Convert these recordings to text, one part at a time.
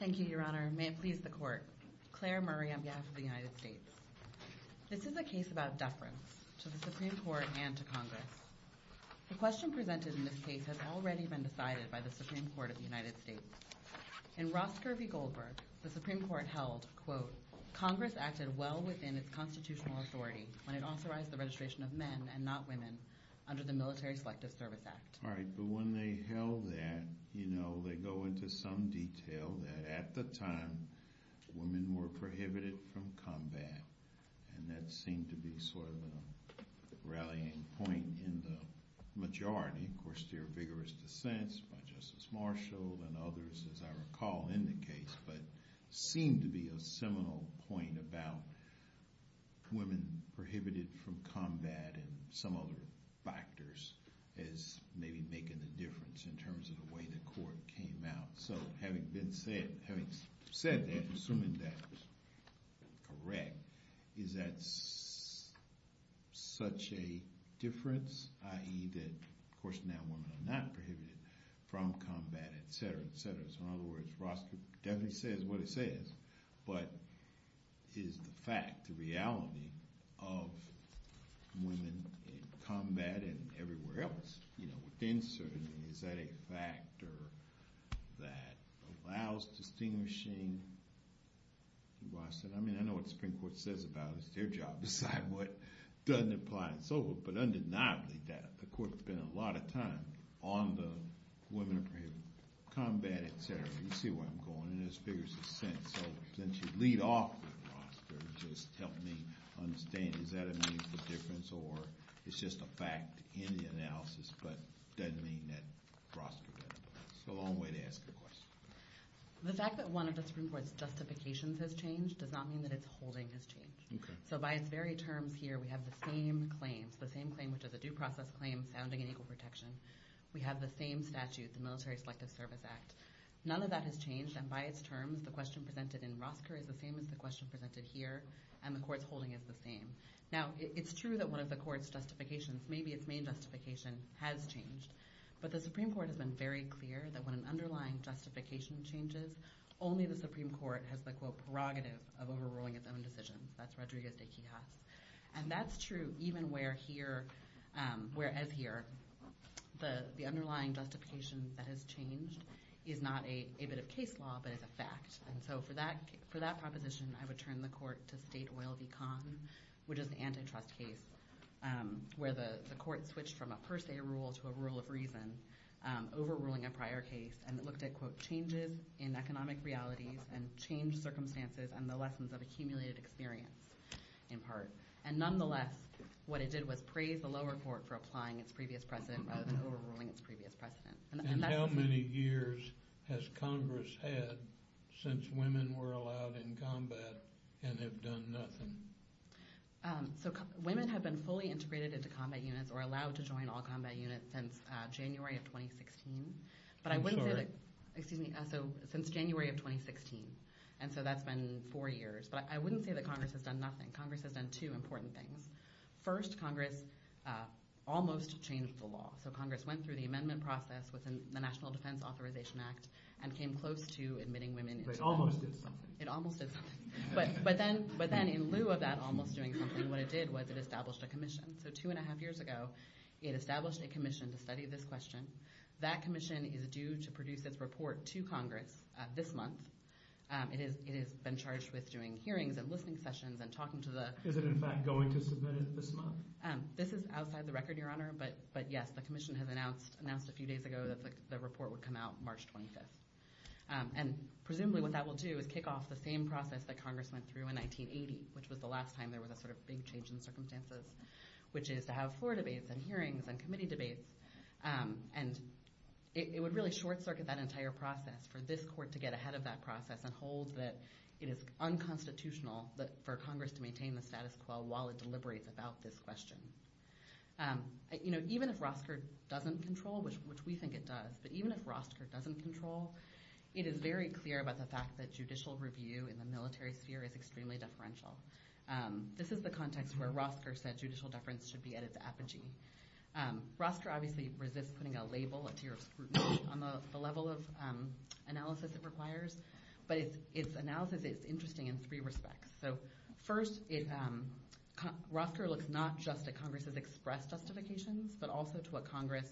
Thank you, your honor. May it please the court. Claire Murray on behalf of the United States. This is a case about deference to the Supreme Court and to Congress. The question presented in this case has already been decided by the Supreme Court of the United States. In Ross Kirby Goldberg, the Supreme Court held, quote, Congress acted well within its constitutional authority when it authorized the registration of men and not women under the Military Selective All right, but when they held that, you know, they go into some detail that at the time women were prohibited from combat, and that seemed to be sort of a rallying point in the majority. Of course, there are vigorous dissents by Justice Marshall and others, as I recall, in the case, but seemed to be a seminal point about women prohibited from combat and some other factors as maybe making a difference in terms of the way the court came out. So having been said, having said that, assuming that was correct, is that such a difference, i.e. that, of course, now women are not prohibited from combat, etc., etc. So in other words, Ross definitely says what but is the fact, the reality of women in combat and everywhere else, you know, within certain, is that a factor that allows distinguishing? I mean, I know what the Supreme Court says about it. It's their job to decide what doesn't apply and so forth, but undeniably, the court spent a lot of time on the women prohibited from combat, etc. You see where I'm going, and there's vigorous dissents. So since you lead off with Ross, it just helped me understand, is that a meaningful difference, or it's just a fact in the analysis, but doesn't mean that Ross did that. It's a long way to ask a question. The fact that one of the Supreme Court's justifications has changed does not mean that its holding has changed. So by its very terms here, we have the same claims, the same claim, which is a due process claim sounding in equal protection. We have the same statute, the Military Selective Service Act. None of that has changed, and by its terms, the question presented in Rosker is the same as the question presented here, and the court's holding is the same. Now, it's true that one of the court's justifications, maybe its main justification, has changed, but the Supreme Court has been very clear that when an underlying justification changes, only the Supreme Court has the, quote, prerogative of overruling its own decisions. That's Rodriguez de Quijas. And that's true even where here, whereas here, the underlying justification that has changed is not a bit of case law, but it's a fact. And so for that proposition, I would turn the court to State Oil v. Khan, which is an antitrust case, where the court switched from a per se rule to a rule of reason, overruling a prior case, and it looked at, quote, changes in economic realities and changed circumstances and the lessons of accumulated experience, in part. And nonetheless, what it did was praise the lower court for applying its previous precedent rather than overruling its previous precedent. And that's... And how many years has Congress had since women were allowed in combat and have done nothing? So women have been fully integrated into combat units or allowed to join all combat units since January of 2016. But I wouldn't say that... I'm sorry. Excuse me. So since January of 2016. And so that's been four years. But I wouldn't say that Congress has done nothing. Congress has done two important things. First, Congress almost changed the law. So Congress went through the amendment process within the National Defense Authorization Act and came close to admitting women... It almost did something. It almost did something. But then in lieu of that almost doing something, what it did was it established a commission. So two and a half years ago, it established a commission to study this question. That commission is due to produce its report to Congress this month. It has been charged with doing hearings and listening sessions and talking to the... Is it in fact going to submit it this month? This is outside the record, Your Honor. But yes, the commission has announced a few days ago that the report would come out March 25th. And presumably what that will do is kick off the same process that Congress went through in 1980, which was the last time there was a sort of big change in circumstances, which is to have floor debates and hearings and committee debates. And it would really short circuit that entire process for this court to get ahead of that process and hold that it is unconstitutional for Congress to maintain the status quo while it deliberates about this question. Even if Rosker doesn't control, which we think it does, but even if Rosker doesn't control, it is very clear about the fact that judicial review in the military sphere is extremely deferential. This is the context where Rosker said judicial deference should be at its apogee. Rosker obviously resists putting a label, a tier of scrutiny, on the level of analysis it requires, but its analysis is interesting in three respects. So first, Rosker looks not just at Congress's express justifications, but also to what Congress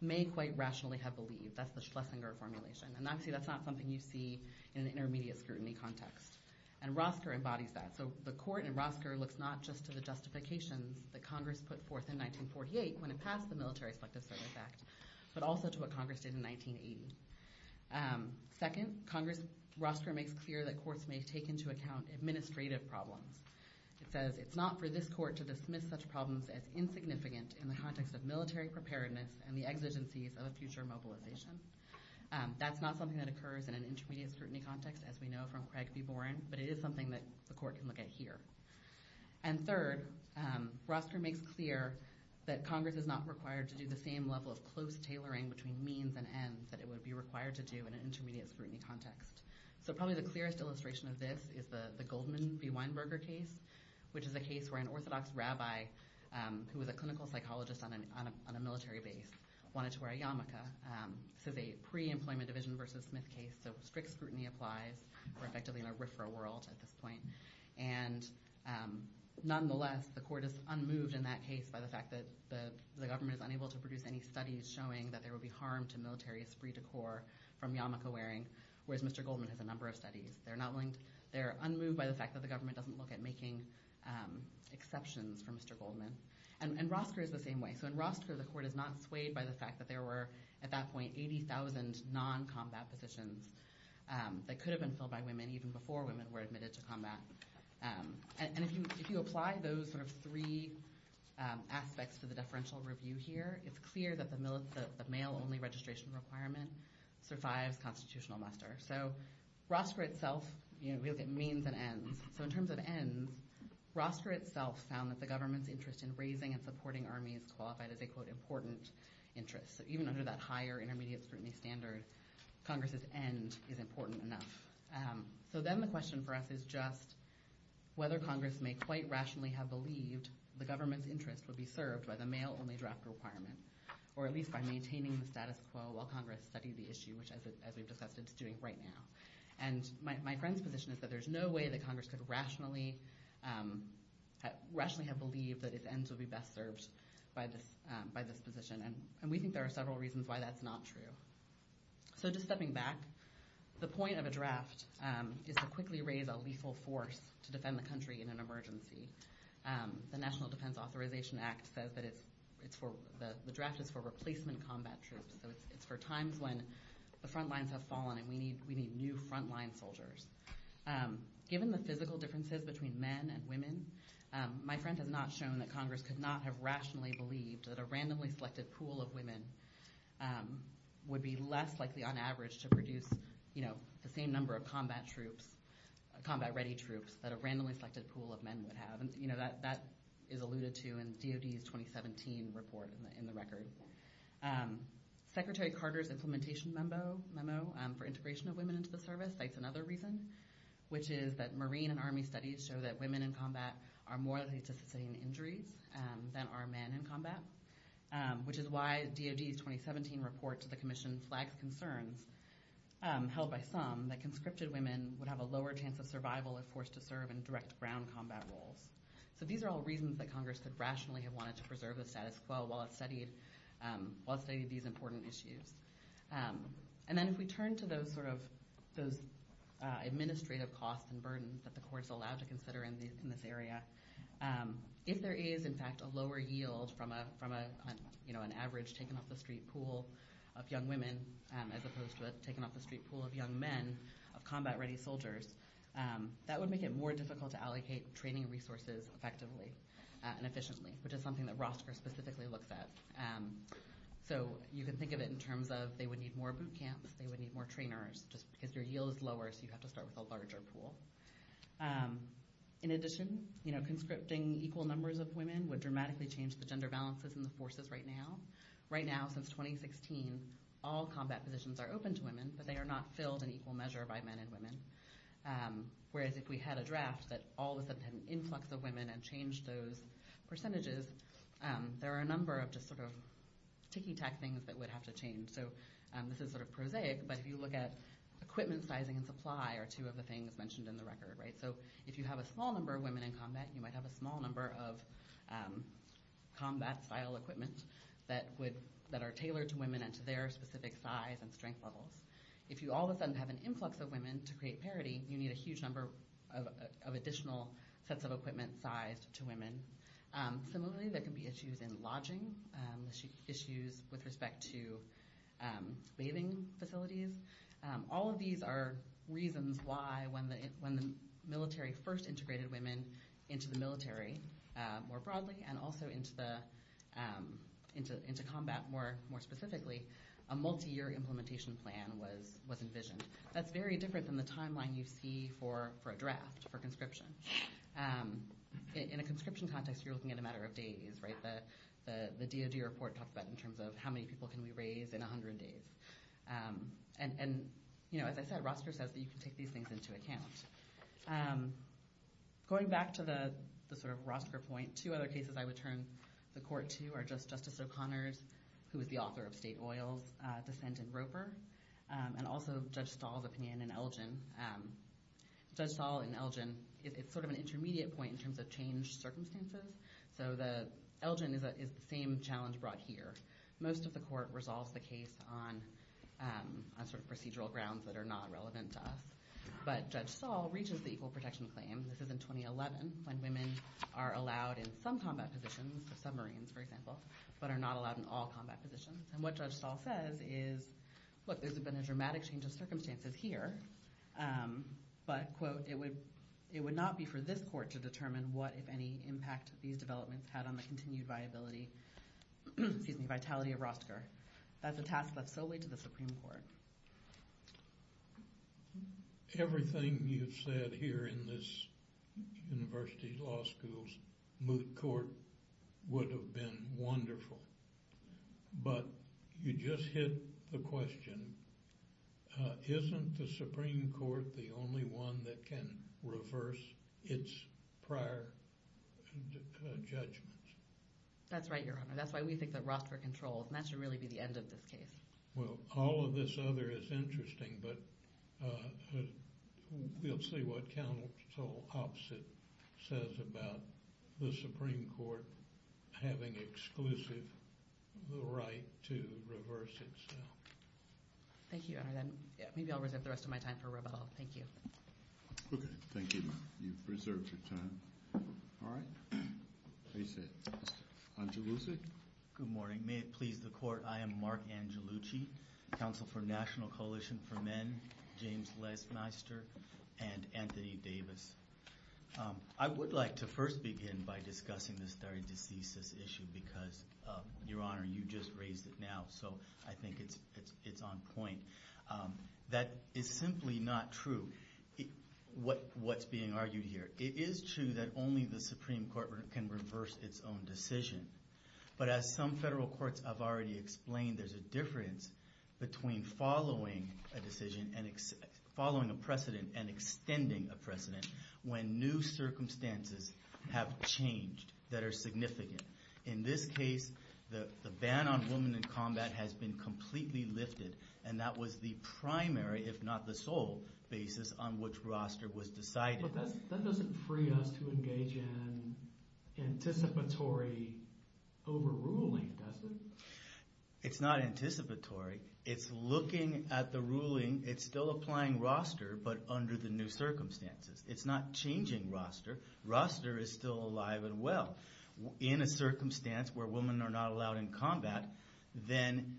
may quite rationally have believed. That's the Schlesinger formulation. And obviously that's not something you see in an intermediate scrutiny context. And Rosker embodies that. So the court in Rosker looks not just to the justifications that Congress put forth in 1948 when it passed the Military Selective Service Act, but also to what Congress did in 1980. Second, Rosker makes clear that courts may take into account administrative problems. It says, it's not for this court to dismiss such problems as insignificant in the context of military preparedness and the exigencies of a future mobilization. That's not something that occurs in an intermediate scrutiny context, as we know from Craig v. Boren, but it is something that the court can look at here. And third, Rosker makes clear that Congress is not required to do the same level of close tailoring between means and ends that it would be required to do in an intermediate scrutiny context. So probably the clearest illustration of this is the Goldman v. Weinberger case, which is a case where an Orthodox rabbi who was a clinical psychologist on a military base wanted to wear a yarmulke. This is a pre-employment division versus Smith case, so strict scrutiny applies. We're effectively in a RFRA world at this point. And nonetheless, the court is unmoved in that case by the fact that the government is unable to produce any studies showing that there will be harm to military esprit de corps from yarmulke wearing, whereas Mr. Goldman has a number of studies. They're unmoved by the fact that the government doesn't look at making exceptions for Mr. Goldman. And Rosker is the same way. So in Rosker, the court is not swayed by the fact that there were, at that point, 80,000 non-combat positions that could have been filled by women even before women were admitted to combat. And if you apply those sort of three aspects to the deferential review here, it's clear that the male-only registration requirement survives constitutional muster. So Rosker itself, we look at means and ends. So in terms of ends, Rosker itself found that the government's in raising and supporting armies qualified as a, quote, important interest. So even under that higher intermediate scrutiny standard, Congress's end is important enough. So then the question for us is just whether Congress may quite rationally have believed the government's interest would be served by the male-only draft requirement, or at least by maintaining the status quo while Congress studied the issue, which, as we've discussed, it's doing right now. And my friend's position is that there's no way that Congress could rationally have believed that its ends would be best served by this position. And we think there are several reasons why that's not true. So just stepping back, the point of a draft is to quickly raise a lethal force to defend the country in an emergency. The National Defense Authorization Act says that the draft is for replacement combat troops. So it's for times when the front lines have fallen and we need new front line soldiers. Given the physical differences between men and women, my friend has not shown that Congress could not have rationally believed that a randomly selected pool of women would be less likely, on average, to produce the same number of combat-ready troops that a randomly selected pool of men would have. And that is alluded to in DOD's 2017 report in the record. Secretary Carter's implementation memo for integration of women into the service cites another reason, which is that Marine and Army studies show that women in combat are more likely to sustain injuries than are men in combat, which is why DOD's 2017 report to the commission flags concerns held by some that conscripted women would have a lower chance of survival if forced to serve in direct ground combat roles. So these are all reasons that I'll say these important issues. And then if we turn to those administrative costs and burdens that the court's allowed to consider in this area, if there is, in fact, a lower yield from an average taken-off-the-street pool of young women as opposed to a taken-off-the-street pool of young men of combat-ready soldiers, that would make it more difficult to allocate training resources effectively and efficiently, which is something that Rostker specifically looks at. So you can think of it in terms of they would need more boot camps, they would need more trainers, just because your yield is lower, so you have to start with a larger pool. In addition, conscripting equal numbers of women would dramatically change the gender balances in the forces right now. Right now, since 2016, all combat positions are open to women, but they are not filled in equal measure by men and women. Whereas if we had a draft that all of a sudden had an influx of women and changed those percentages, there are a number of just sort of ticky-tack things that would have to change. So this is sort of prosaic, but if you look at equipment sizing and supply are two of the things mentioned in the record, right? So if you have a small number of women in combat, you might have a small number of combat-style equipment that are tailored to women and to their specific size and strength levels. If you all of a sudden have an influx of women to create parity, you need a huge number of additional sets of equipment sized to women. Similarly, there can be issues in lodging, issues with respect to bathing facilities. All of these are reasons why when the military first integrated women into the military more broadly and also into combat more specifically, a multi-year implementation plan was envisioned. That's very different than the timeline you see for a draft, for conscription. In a conscription context, you're looking at a matter of days, right? The DOJ report talks about in terms of how many people can we raise in 100 days. And as I said, Rosker says that you can take these things into account. Going back to the sort of Rosker point, two other cases I would turn the court to are just Justice O'Connor's, who was the author of State Oil's dissent in Roper, and also Judge Stahl's opinion in Elgin. Judge Stahl in Elgin, it's sort of an intermediate point in terms of changed circumstances. So Elgin is the same challenge brought here. Most of the court resolves the case on procedural grounds that are not relevant to us. But Judge Stahl reaches the equal protection claim. This is in 2011, when women are allowed in some combat positions, submarines for example, but are not allowed in all combat positions. And what Judge Stahl says is, look, there's been a dramatic change of circumstances here, but quote, it would not be for this court to determine what if any impact these developments had on the continued viability, excuse me, vitality of Rosker. That's a task left solely to the Supreme Court. Everything you've said here in this university law school's moot court would have been wonderful. But you just hit the question, isn't the Supreme Court the only one that can reverse its prior judgments? That's right, Your Honor. That's why we think that Rosker controls, and that should really be the end of this case. Well, all of this other is interesting, but we'll see what counsel opposite says about the Supreme Court having exclusive the right to reverse itself. Thank you, Your Honor. Then maybe I'll reserve the rest of my time for rebuttal. Thank you. Okay. Thank you. You've preserved your time. All right. Please sit. Angelucci? Good morning. May it please the court, I am Mark Angelucci, counsel for National Coalition for Men, James Lesmeister, and Anthony Davis. I would like to first begin by discussing this theredecesis issue because, Your Honor, you just raised it now, so I think it's on point. That is simply not true, what's being argued here. It is true that only the Supreme Court can reverse its own decision. But as some federal courts have already explained, there's a difference between following a decision and following a precedent and extending a precedent when new circumstances have changed that are significant. In this case, the ban on women in combat has been completely lifted, and that was the primary, if not the sole, basis on which roster was decided. But that doesn't free us to engage in anticipatory overruling, does it? It's not anticipatory. It's looking at the ruling. It's still applying roster, but under the new circumstances. It's not changing roster. Roster is still alive and well. In a circumstance where women are not allowed in combat, then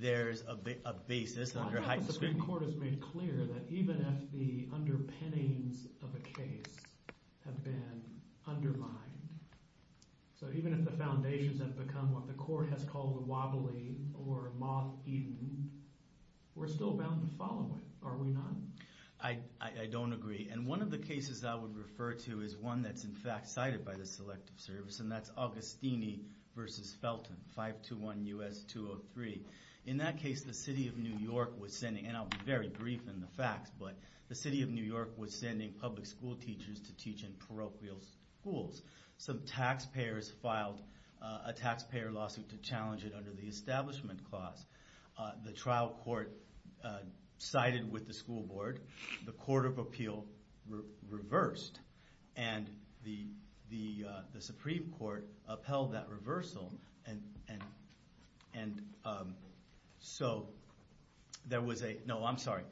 there's a basis under heightened scrutiny. I think the Supreme Court has made clear that even if the underpinnings of a case have been undermined, so even if the foundations have become what the court has called wobbly or moth-eaten, we're still bound to follow it, are we not? I don't agree. And one of the cases I would refer to is one that's in fact cited by the Selective Service, and that's Agostini v. Felton, 521 U.S. 203. In that case, the City of New York was sending, and I'll be very brief in the facts, but the City of New York was sending public school teachers to teach in parochial schools. Some taxpayers filed a taxpayer lawsuit to challenge it under the Establishment Clause. The trial court sided with the school board. The Court of Appeal reversed, and the Supreme Court upheld that reversal. And so there was a... No, I'm sorry.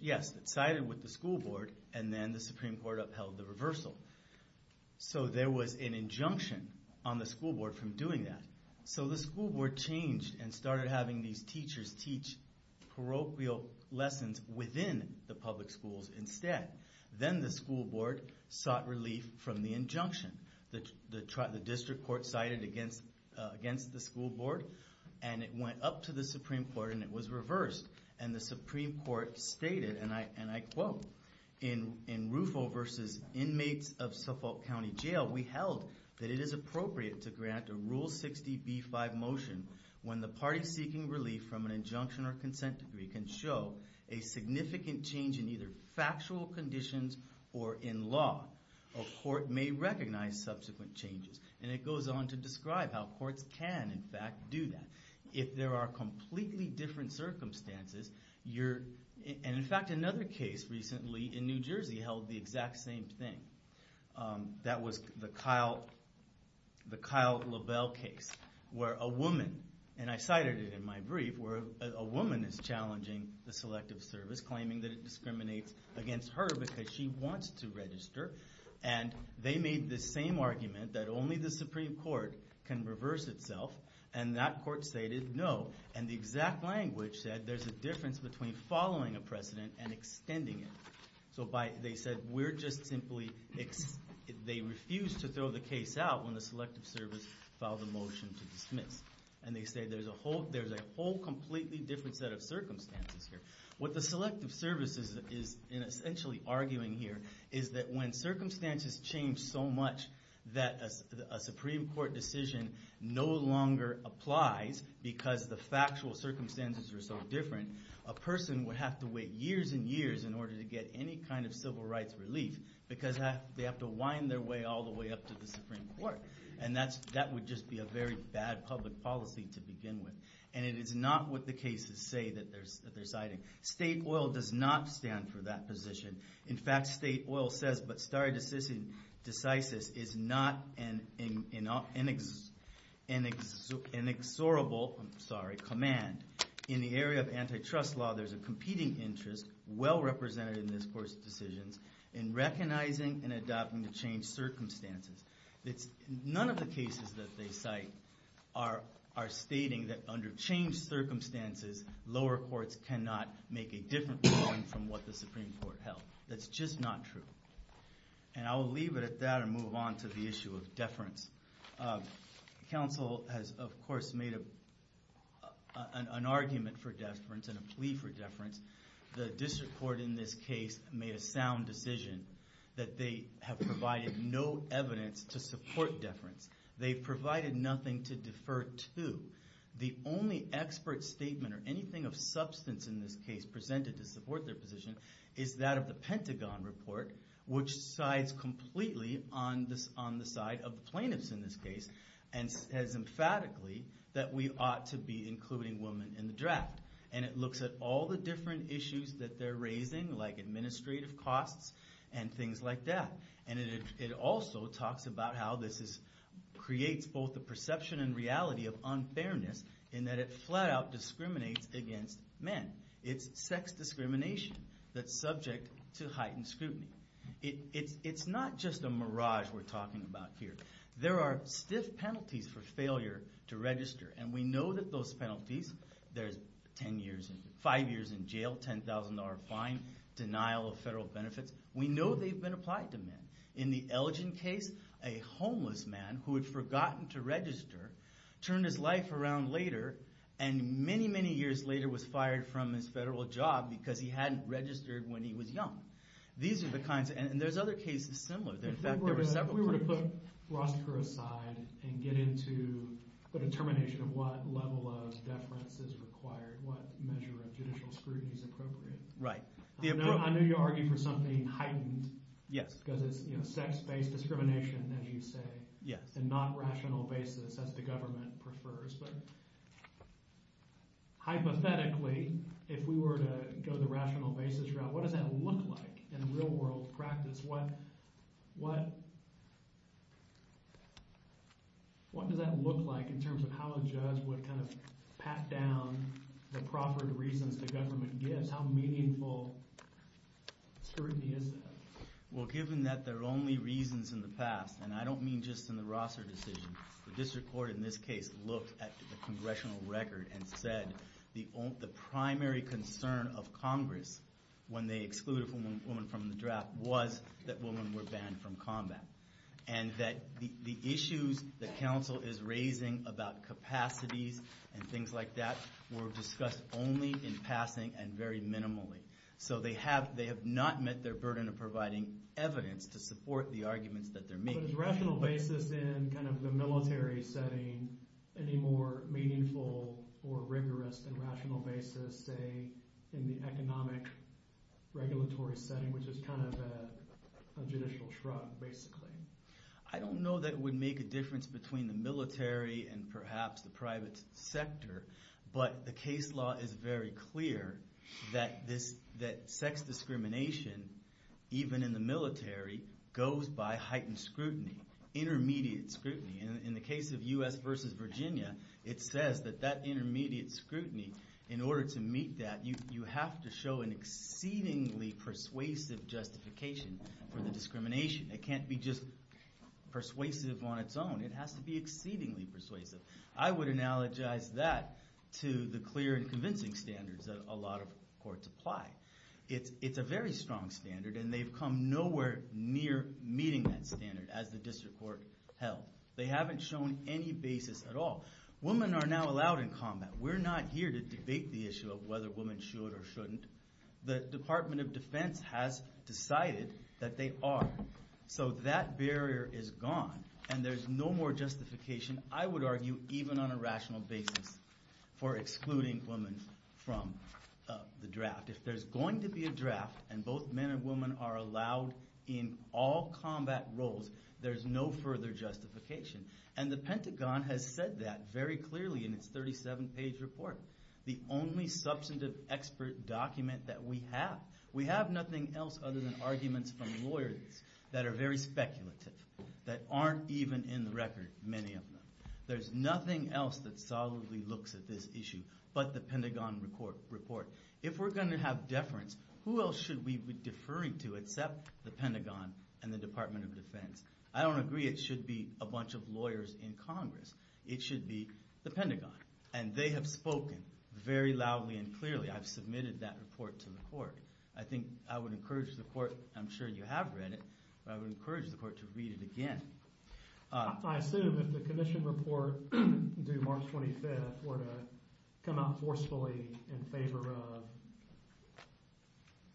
Yes, it sided with the school board, and then the Supreme Court upheld the reversal. So there was an injunction on the school board from doing that. So the school board changed and started having these teachers teach parochial lessons within the public schools instead. Then the school board sought relief from the injunction. The district court sided against the school board, and it went up to the Supreme Court, and it was reversed. And the Supreme Court stated, and I quote, in Rufo v. Inmates of Suffolk County Jail, we held that it is appropriate to grant a Rule 60b-5 motion when the party seeking relief from an injunction or consent decree can show a significant change in either factual conditions or in law. A court may recognize subsequent changes. And it goes on to describe how courts can, in fact, do that. If there are And in fact, another case recently in New Jersey held the exact same thing. That was the Kyle Lebel case, where a woman, and I cited it in my brief, where a woman is challenging the Selective Service, claiming that it discriminates against her because she wants to register. And they made the same argument that only the Supreme Court can reverse itself. And that court stated no. And the exact language said there's a difference between following a precedent and extending it. So they said we're just simply, they refused to throw the case out when the Selective Service filed a motion to dismiss. And they say there's a whole completely different set of circumstances here. What the Selective Service is essentially arguing here is that when circumstances change so much that a Supreme Court decision no longer applies because the factual circumstances are so different, a person would have to wait years and years in order to get any kind of civil rights relief because they have to wind their way all the way up to the Supreme Court. And that would just be a very bad public policy to begin with. And it is not what the cases say that they're citing. State oil does not stand for that position. In fact, state oil says, but stare decisis is not an inexorable command. In the area of antitrust law, there's a competing interest well represented in this court's decisions in recognizing and adopting the changed circumstances. It's none of the cases that they cite are stating that under changed circumstances, lower courts cannot make a Supreme Court help. That's just not true. And I will leave it at that and move on to the issue of deference. Council has, of course, made an argument for deference and a plea for deference. The district court in this case made a sound decision that they have provided no evidence to support deference. They've provided nothing to defer to. The only expert statement or anything of substance in this case presented to support their position is that of the Pentagon report, which sides completely on the side of the plaintiffs in this case and says emphatically that we ought to be including women in the draft. And it looks at all the different issues that they're raising, like administrative costs and things like that. And it also talks about how this creates both the perception and reality of unfairness in that it flat out discriminates against men. It's sex discrimination that's subject to heightened scrutiny. It's not just a mirage we're talking about here. There are stiff penalties for failure to register. And we know that those penalties, there's five years in jail, $10,000 fine, denial of federal benefits. We know they've been applied to men. In the Elgin case, a homeless man who had forgotten to register turned his life around later and many, many years later was fired from his federal job because he hadn't registered when he was young. These are the kinds, and there's other cases similar. In fact, there were several cases. If we were to put Rostker aside and get into the determination of what level of deference is required, what measure of judicial scrutiny is appropriate, I know you argue for something heightened because it's sex-based discrimination, as you say, and not rational basis, as the government prefers. But hypothetically, if we were to go the rational basis route, what does that look like in real-world practice? What does that look like in terms of how a judge would pat down the proper reasons the government gives? How meaningful scrutiny is that? Well, given that they're only reasons in the past, and I don't mean just in the Rostker decision, the district court in this case looked at the congressional record and said the primary concern of Congress when they excluded a woman from the draft was that women were banned from combat. And that the issues the council is raising about capacities and things like that were discussed only in passing and very minimally. So they have not met their burden of providing evidence to support the arguments that they're making. But is rational basis in the military setting any more meaningful or rigorous than rational basis, say, in the economic regulatory setting, which is kind of a judicial shrug, basically? I don't know that it would make a difference between the military and perhaps the private sector. But the case law is very clear that sex discrimination, even in the military, goes by heightened scrutiny, intermediate scrutiny. In the case of US versus Virginia, it says that that intermediate scrutiny, in order to meet that, you have to show an exceedingly persuasive justification for the discrimination. It can't be just persuasive on its own. It has to be exceedingly persuasive. I would analogize that to the clear and convincing standards that a lot of courts apply. It's a very strong standard. And they've come nowhere near meeting that standard as the district court held. They haven't shown any basis at all. Women are now allowed in combat. We're not here to debate the issue of whether women should or shouldn't. The Department of Defense has decided that they are. So that barrier is gone. And there's no more justification, I would argue, even on a rational basis, for excluding women from the draft. If there's going to be a draft and both men and women are allowed in all combat roles, there's no further justification. And the Pentagon has said that very clearly in its 37-page report, the only substantive expert document that we have. We have nothing else other than arguments from record, many of them. There's nothing else that solidly looks at this issue but the Pentagon report. If we're going to have deference, who else should we be deferring to except the Pentagon and the Department of Defense? I don't agree it should be a bunch of lawyers in Congress. It should be the Pentagon. And they have spoken very loudly and clearly. I've submitted that report to the court. I think I would encourage the court, I'm sure you have read it, but I would encourage the court to read it again. I assume if the commission report due March 25th were to come out forcefully in favor of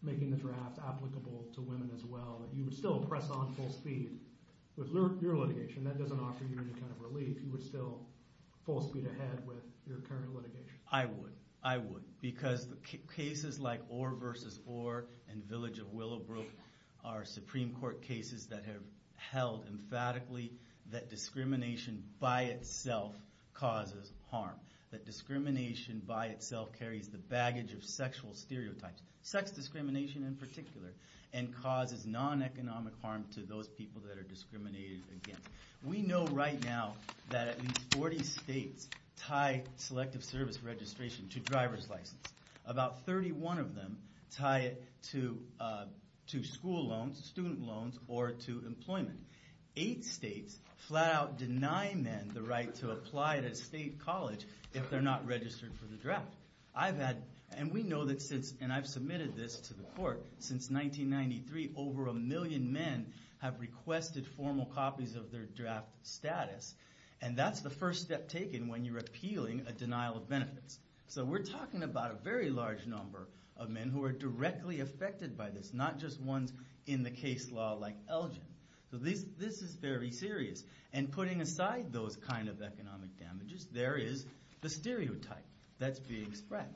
making the draft applicable to women as well, that you would still press on full speed with your litigation. That doesn't offer you any kind of relief. You would still full speed ahead with your current litigation. I would. I would. Because the cases like Orr versus Village of Willowbrook are Supreme Court cases that have held emphatically that discrimination by itself causes harm. That discrimination by itself carries the baggage of sexual stereotypes, sex discrimination in particular, and causes non-economic harm to those people that are discriminated against. We know right now that at least 40 states tie selective service registration to driver's license. About 31 of them tie it to school loans, student loans, or to employment. Eight states flat out deny men the right to apply at a state college if they're not registered for the draft. I've had, and we know that since, and I've submitted this to the court, since 1993 over a million men have requested formal copies of their draft status. And that's the first step taken when you're appealing a denial of benefits. So we're talking about a very large number of men who are directly affected by this, not just ones in the case law like Elgin. So this is very serious. And putting aside those kind of economic damages, there is the stereotype that's being spread.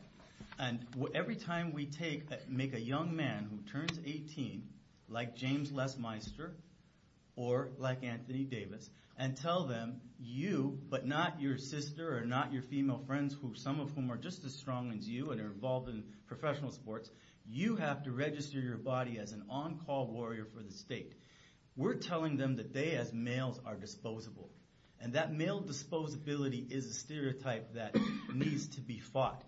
And every time we take, make a young man who turns 18, like James Lesmeister, or like Anthony Davis, and tell them you, but not your sister, or not your female friends, some of whom are just as strong as you, and are involved in professional sports, you have to register your body as an on-call warrior for the state. We're telling them that they as males are disposable. And that male disposability is a stereotype that needs to be fought.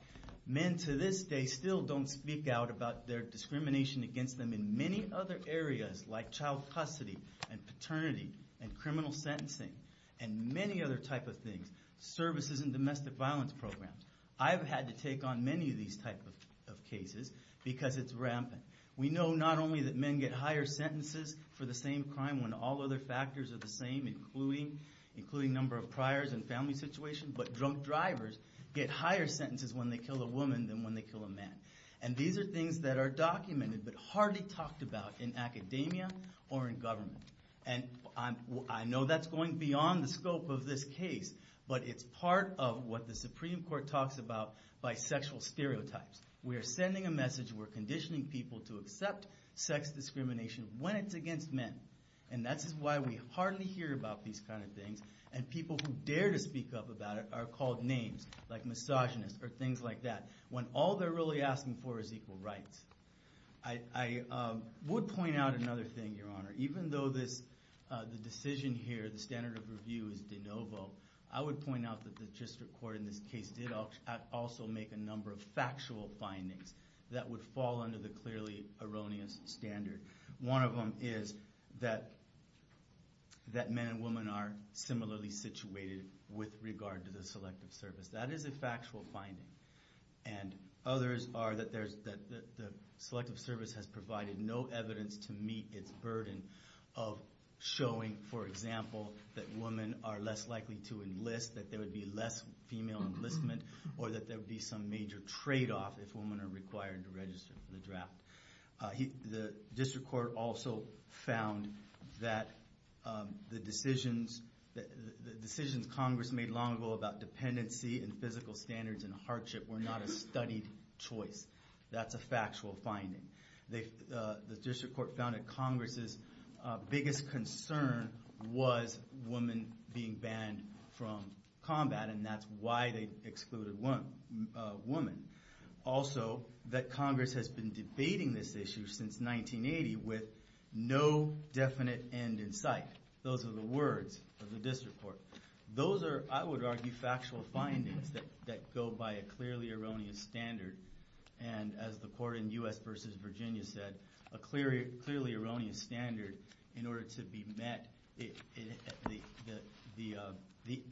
Men to this day still don't speak out about their discrimination against them in many other areas, like child custody, and paternity, and criminal sentencing, and many other type of things, services in domestic violence programs. I've had to take on many of these type of cases because it's rampant. We know not only that men get higher sentences for the same crime when all other factors are the same, including number of priors and family situation, but drunk drivers get higher sentences when they kill a woman than when they kill a man. And these are things that are documented, but hardly talked about in academia or in government. And I know that's going beyond the scope of this case, but it's part of what the Supreme Court talks about by sexual stereotypes. We are sending a message, we're conditioning people to accept sex discrimination when it's against men. And that's why we hardly hear about these kind of things, and people who dare to speak up about it are called names, like misogynist, or things like that, when all they're really asking for is equal rights. I would point out another thing, Your Honor. Even though the decision here, the standard of review is de novo, I would point out that the district court in this case did also make a number of factual findings that would fall under the clearly erroneous standard. One of them is that men and women are similarly situated with regard to the selective service. That is a factual finding. And others are that the selective service has provided no evidence to meet its burden of showing, for example, that women are less likely to enlist, that there would be less female enlistment, or that there would be some major trade-off if women are required to register for the draft. The district court also found that the decisions Congress made long ago about dependency and physical standards and hardship were not a studied choice. That's a factual finding. The district court found that Congress's biggest concern was women being banned from combat, and that's why they excluded women. Also, that Congress has been debating this issue since 1980 with no definite end in sight. Those are the words of the district court. Those are, I would argue, factual findings that go by a clearly erroneous standard. And as the court in U.S. v. Virginia said, a clearly erroneous standard, in order to be met, the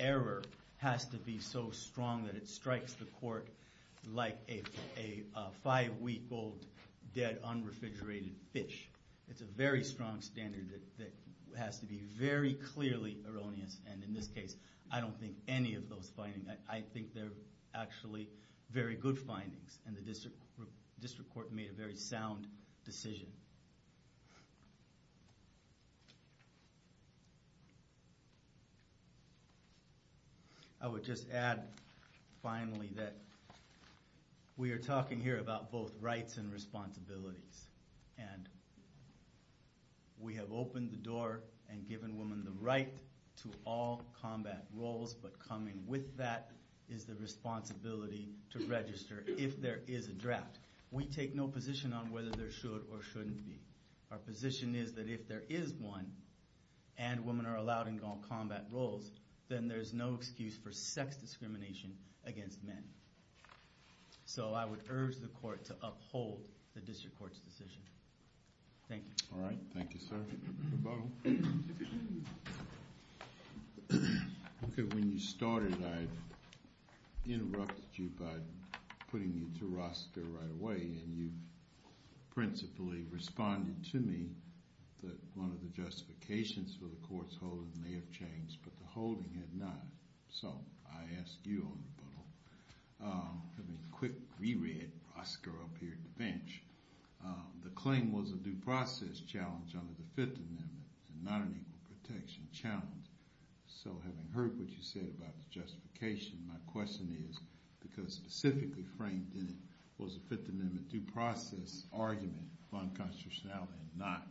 error has to be so strong that it strikes the court like a five-week-old dead, unrefrigerated fish. It's a very strong standard that has to be very clearly erroneous. And in this case, I don't think any of those findings, I think they're actually very good findings, and the district court made a very Finally, we are talking here about both rights and responsibilities. We have opened the door and given women the right to all combat roles, but coming with that is the responsibility to register if there is a draft. We take no position on whether there should or shouldn't be. Our position is that if there is one, and women are allowed in all combat roles, then there's no excuse for sex discrimination against men. So I would urge the court to uphold the district court's decision. Thank you. All right. Thank you, sir. Okay, when you started, I interrupted you by putting you to roster right away, and you principally responded to me that one of the justifications for the court's holdings may have changed, but the holding had not. So I ask you on rebuttal. Let me quick re-read Oscar up here at the bench. The claim was a due process challenge under the Fifth Amendment, not an equal protection challenge. So having heard what you said about the justification, my question is, because specifically framed in it was a Fifth Amendment due process argument for unconstitutionality and not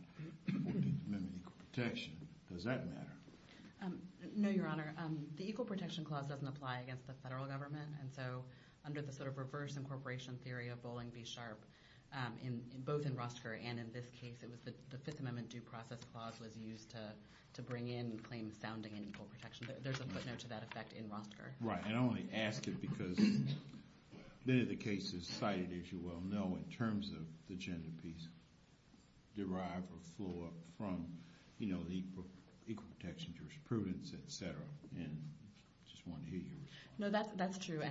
the Fifth Amendment equal protection. Does that matter? No, Your Honor. The equal protection clause doesn't apply against the federal government, and so under the sort of reverse incorporation theory of Bowling v. Sharp, both in Rostker and in this case, the Fifth Amendment due process clause was used to bring in claims sounding in equal protection. There's a footnote to that effect in Rostker. Right. And I only ask it because many of the cases cited, as you well know, in terms of the gender piece derive or flow up from the equal protection jurisprudence, et cetera. And I just wanted to hear your response. No, that's true.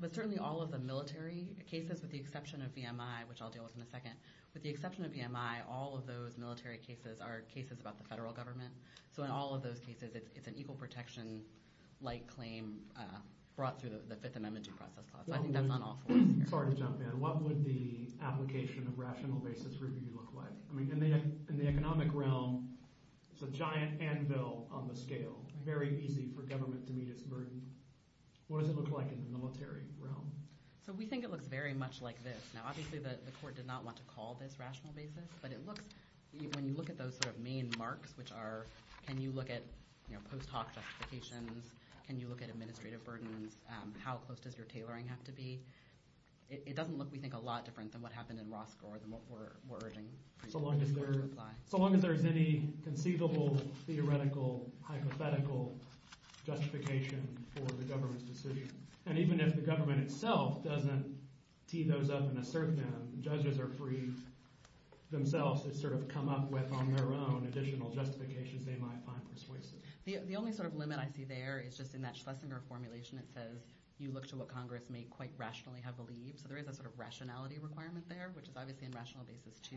But certainly all of the military cases, with the exception of VMI, which I'll deal with in a second, with the exception of VMI, all of those military cases are cases about the federal government. So in all of those cases, it's an equal protection-like brought through the Fifth Amendment due process clause. I think that's on all fours here. Sorry to jump in. What would the application of rational basis review look like? I mean, in the economic realm, it's a giant anvil on the scale, very easy for government to meet its burden. What does it look like in the military realm? So we think it looks very much like this. Now, obviously, the court did not want to call this rational basis, but when you look at those administrative burdens, how close does your tailoring have to be? It doesn't look, we think, a lot different than what happened in Roscoe or than what we're urging. So long as there is any conceivable, theoretical, hypothetical justification for the government's decision. And even if the government itself doesn't tee those up and assert them, judges are free themselves to sort of come up with on their own additional justifications they might find persuasive. The only sort of there is just in that Schlesinger formulation, it says, you look to what Congress may quite rationally have believed. So there is a sort of rationality requirement there, which is obviously in rational basis too.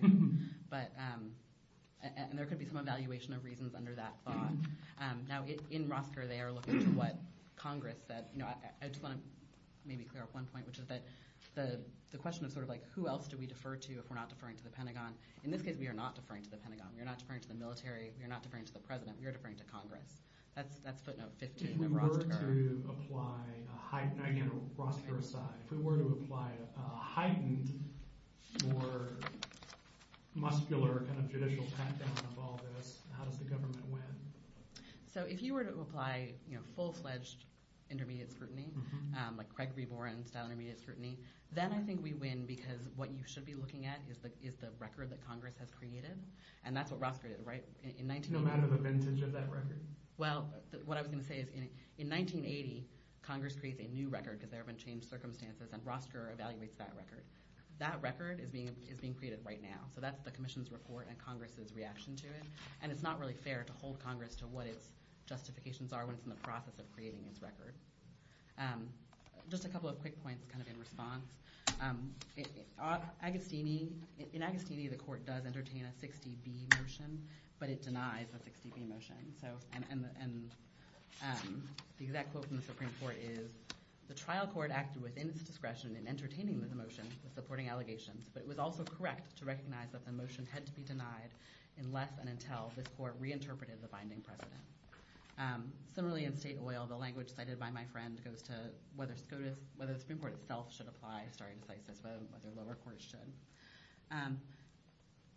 And there could be some evaluation of reasons under that thought. Now, in Roscoe, they are looking to what Congress said. I just want to maybe clear up one point, which is that the question of sort of like, who else do we defer to if we're not deferring to the Pentagon? In this case, we are not deferring to the Pentagon. We are not deferring to the military. We are not deferring to the president. We are deferring to Congress. That's footnote 15 of Roscoe. If we were to apply, again, Roscoe aside, if we were to apply a heightened, more muscular kind of judicial pat-down of all this, how does the government win? So if you were to apply full-fledged intermediate scrutiny, like Craig Reborn-style intermediate scrutiny, then I think we win because what you should be looking at is the record that Congress has created. And that's what Roscoe did, right? In 1980. The vintage of that record. Well, what I was going to say is in 1980, Congress creates a new record because there have been changed circumstances, and Roscoe evaluates that record. That record is being created right now. So that's the commission's report and Congress's reaction to it. And it's not really fair to hold Congress to what its justifications are when it's in the process of creating its record. Just a couple of quick points kind of in response. In Agostini, the Supreme Court, the trial court acted within its discretion in entertaining the motion, supporting allegations. But it was also correct to recognize that the motion had to be denied unless and until this court reinterpreted the binding precedent. Similarly, in state oil, the language cited by my friend goes to whether the Supreme Court itself should apply stare decisis, whether lower courts should.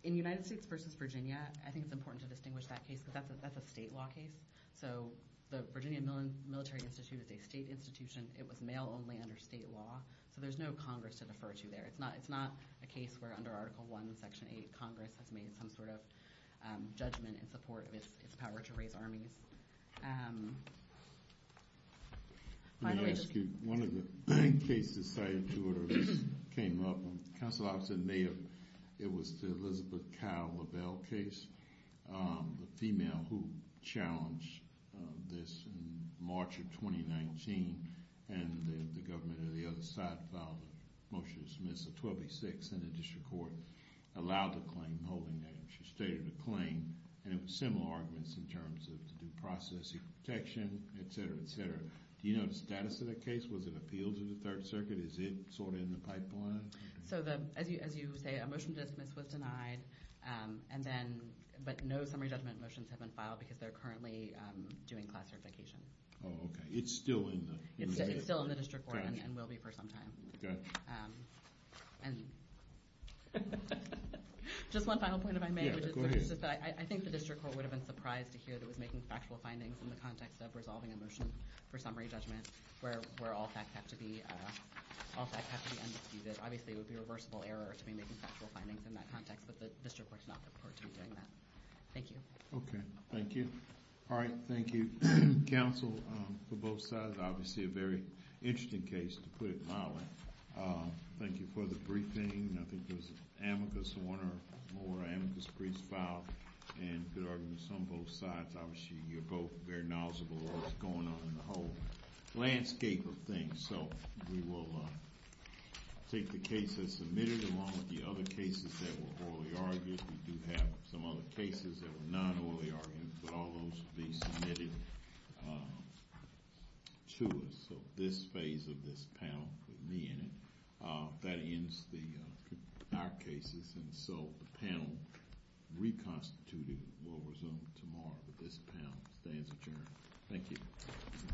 In United States versus Virginia, I think it's important to distinguish that case because that's a state law case. So the Virginia Military Institute is a state institution. It was male only under state law. So there's no Congress to defer to there. It's not a case where under Article I, Section 8, Congress has made some sort of judgment in support of its power to raise armies. Let me ask you, one of the cases cited to it, or at least came up, counsel I've said may have, it was the Elizabeth Kyle Lavelle case, the female who challenged this in March of 2019. And the government on the other side filed a motion to dismiss a 1286 in the district court, allowed the claim holding that she stated a claim. And it was similar arguments in terms of due process, equal protection, etc., etc. Do you know the status of that case? Was it appealed to the Third Circuit? Is it in the pipeline? As you say, a motion to dismiss was denied, but no summary judgment motions have been filed because they're currently doing classification. It's still in the district court and will be for some time. Just one final point if I may. I think the district court would have been surprised to hear that it was making factual findings in the context of resolving a motion for summary judgment where all facts have to be undisputed. Obviously, it would be a reversible error to be making factual findings in that context, but the district court's not going to be doing that. Thank you. Okay. Thank you. All right. Thank you, counsel, for both sides. Obviously, a very interesting case, to put it mildly. Thank you for the briefing. I think it was amicus, one or more amicus briefs filed, and good arguments on both sides. Obviously, you're both very knowledgeable on what's going on in the whole landscape of things, so we will take the cases submitted along with the other cases that were orally argued. We do have some other cases that were non-orally argued, but all those will be submitted to us. So this phase of this panel, with me in it, that ends our cases, and so the panel reconstituting will resume tomorrow, but this panel stands adjourned. Thank you.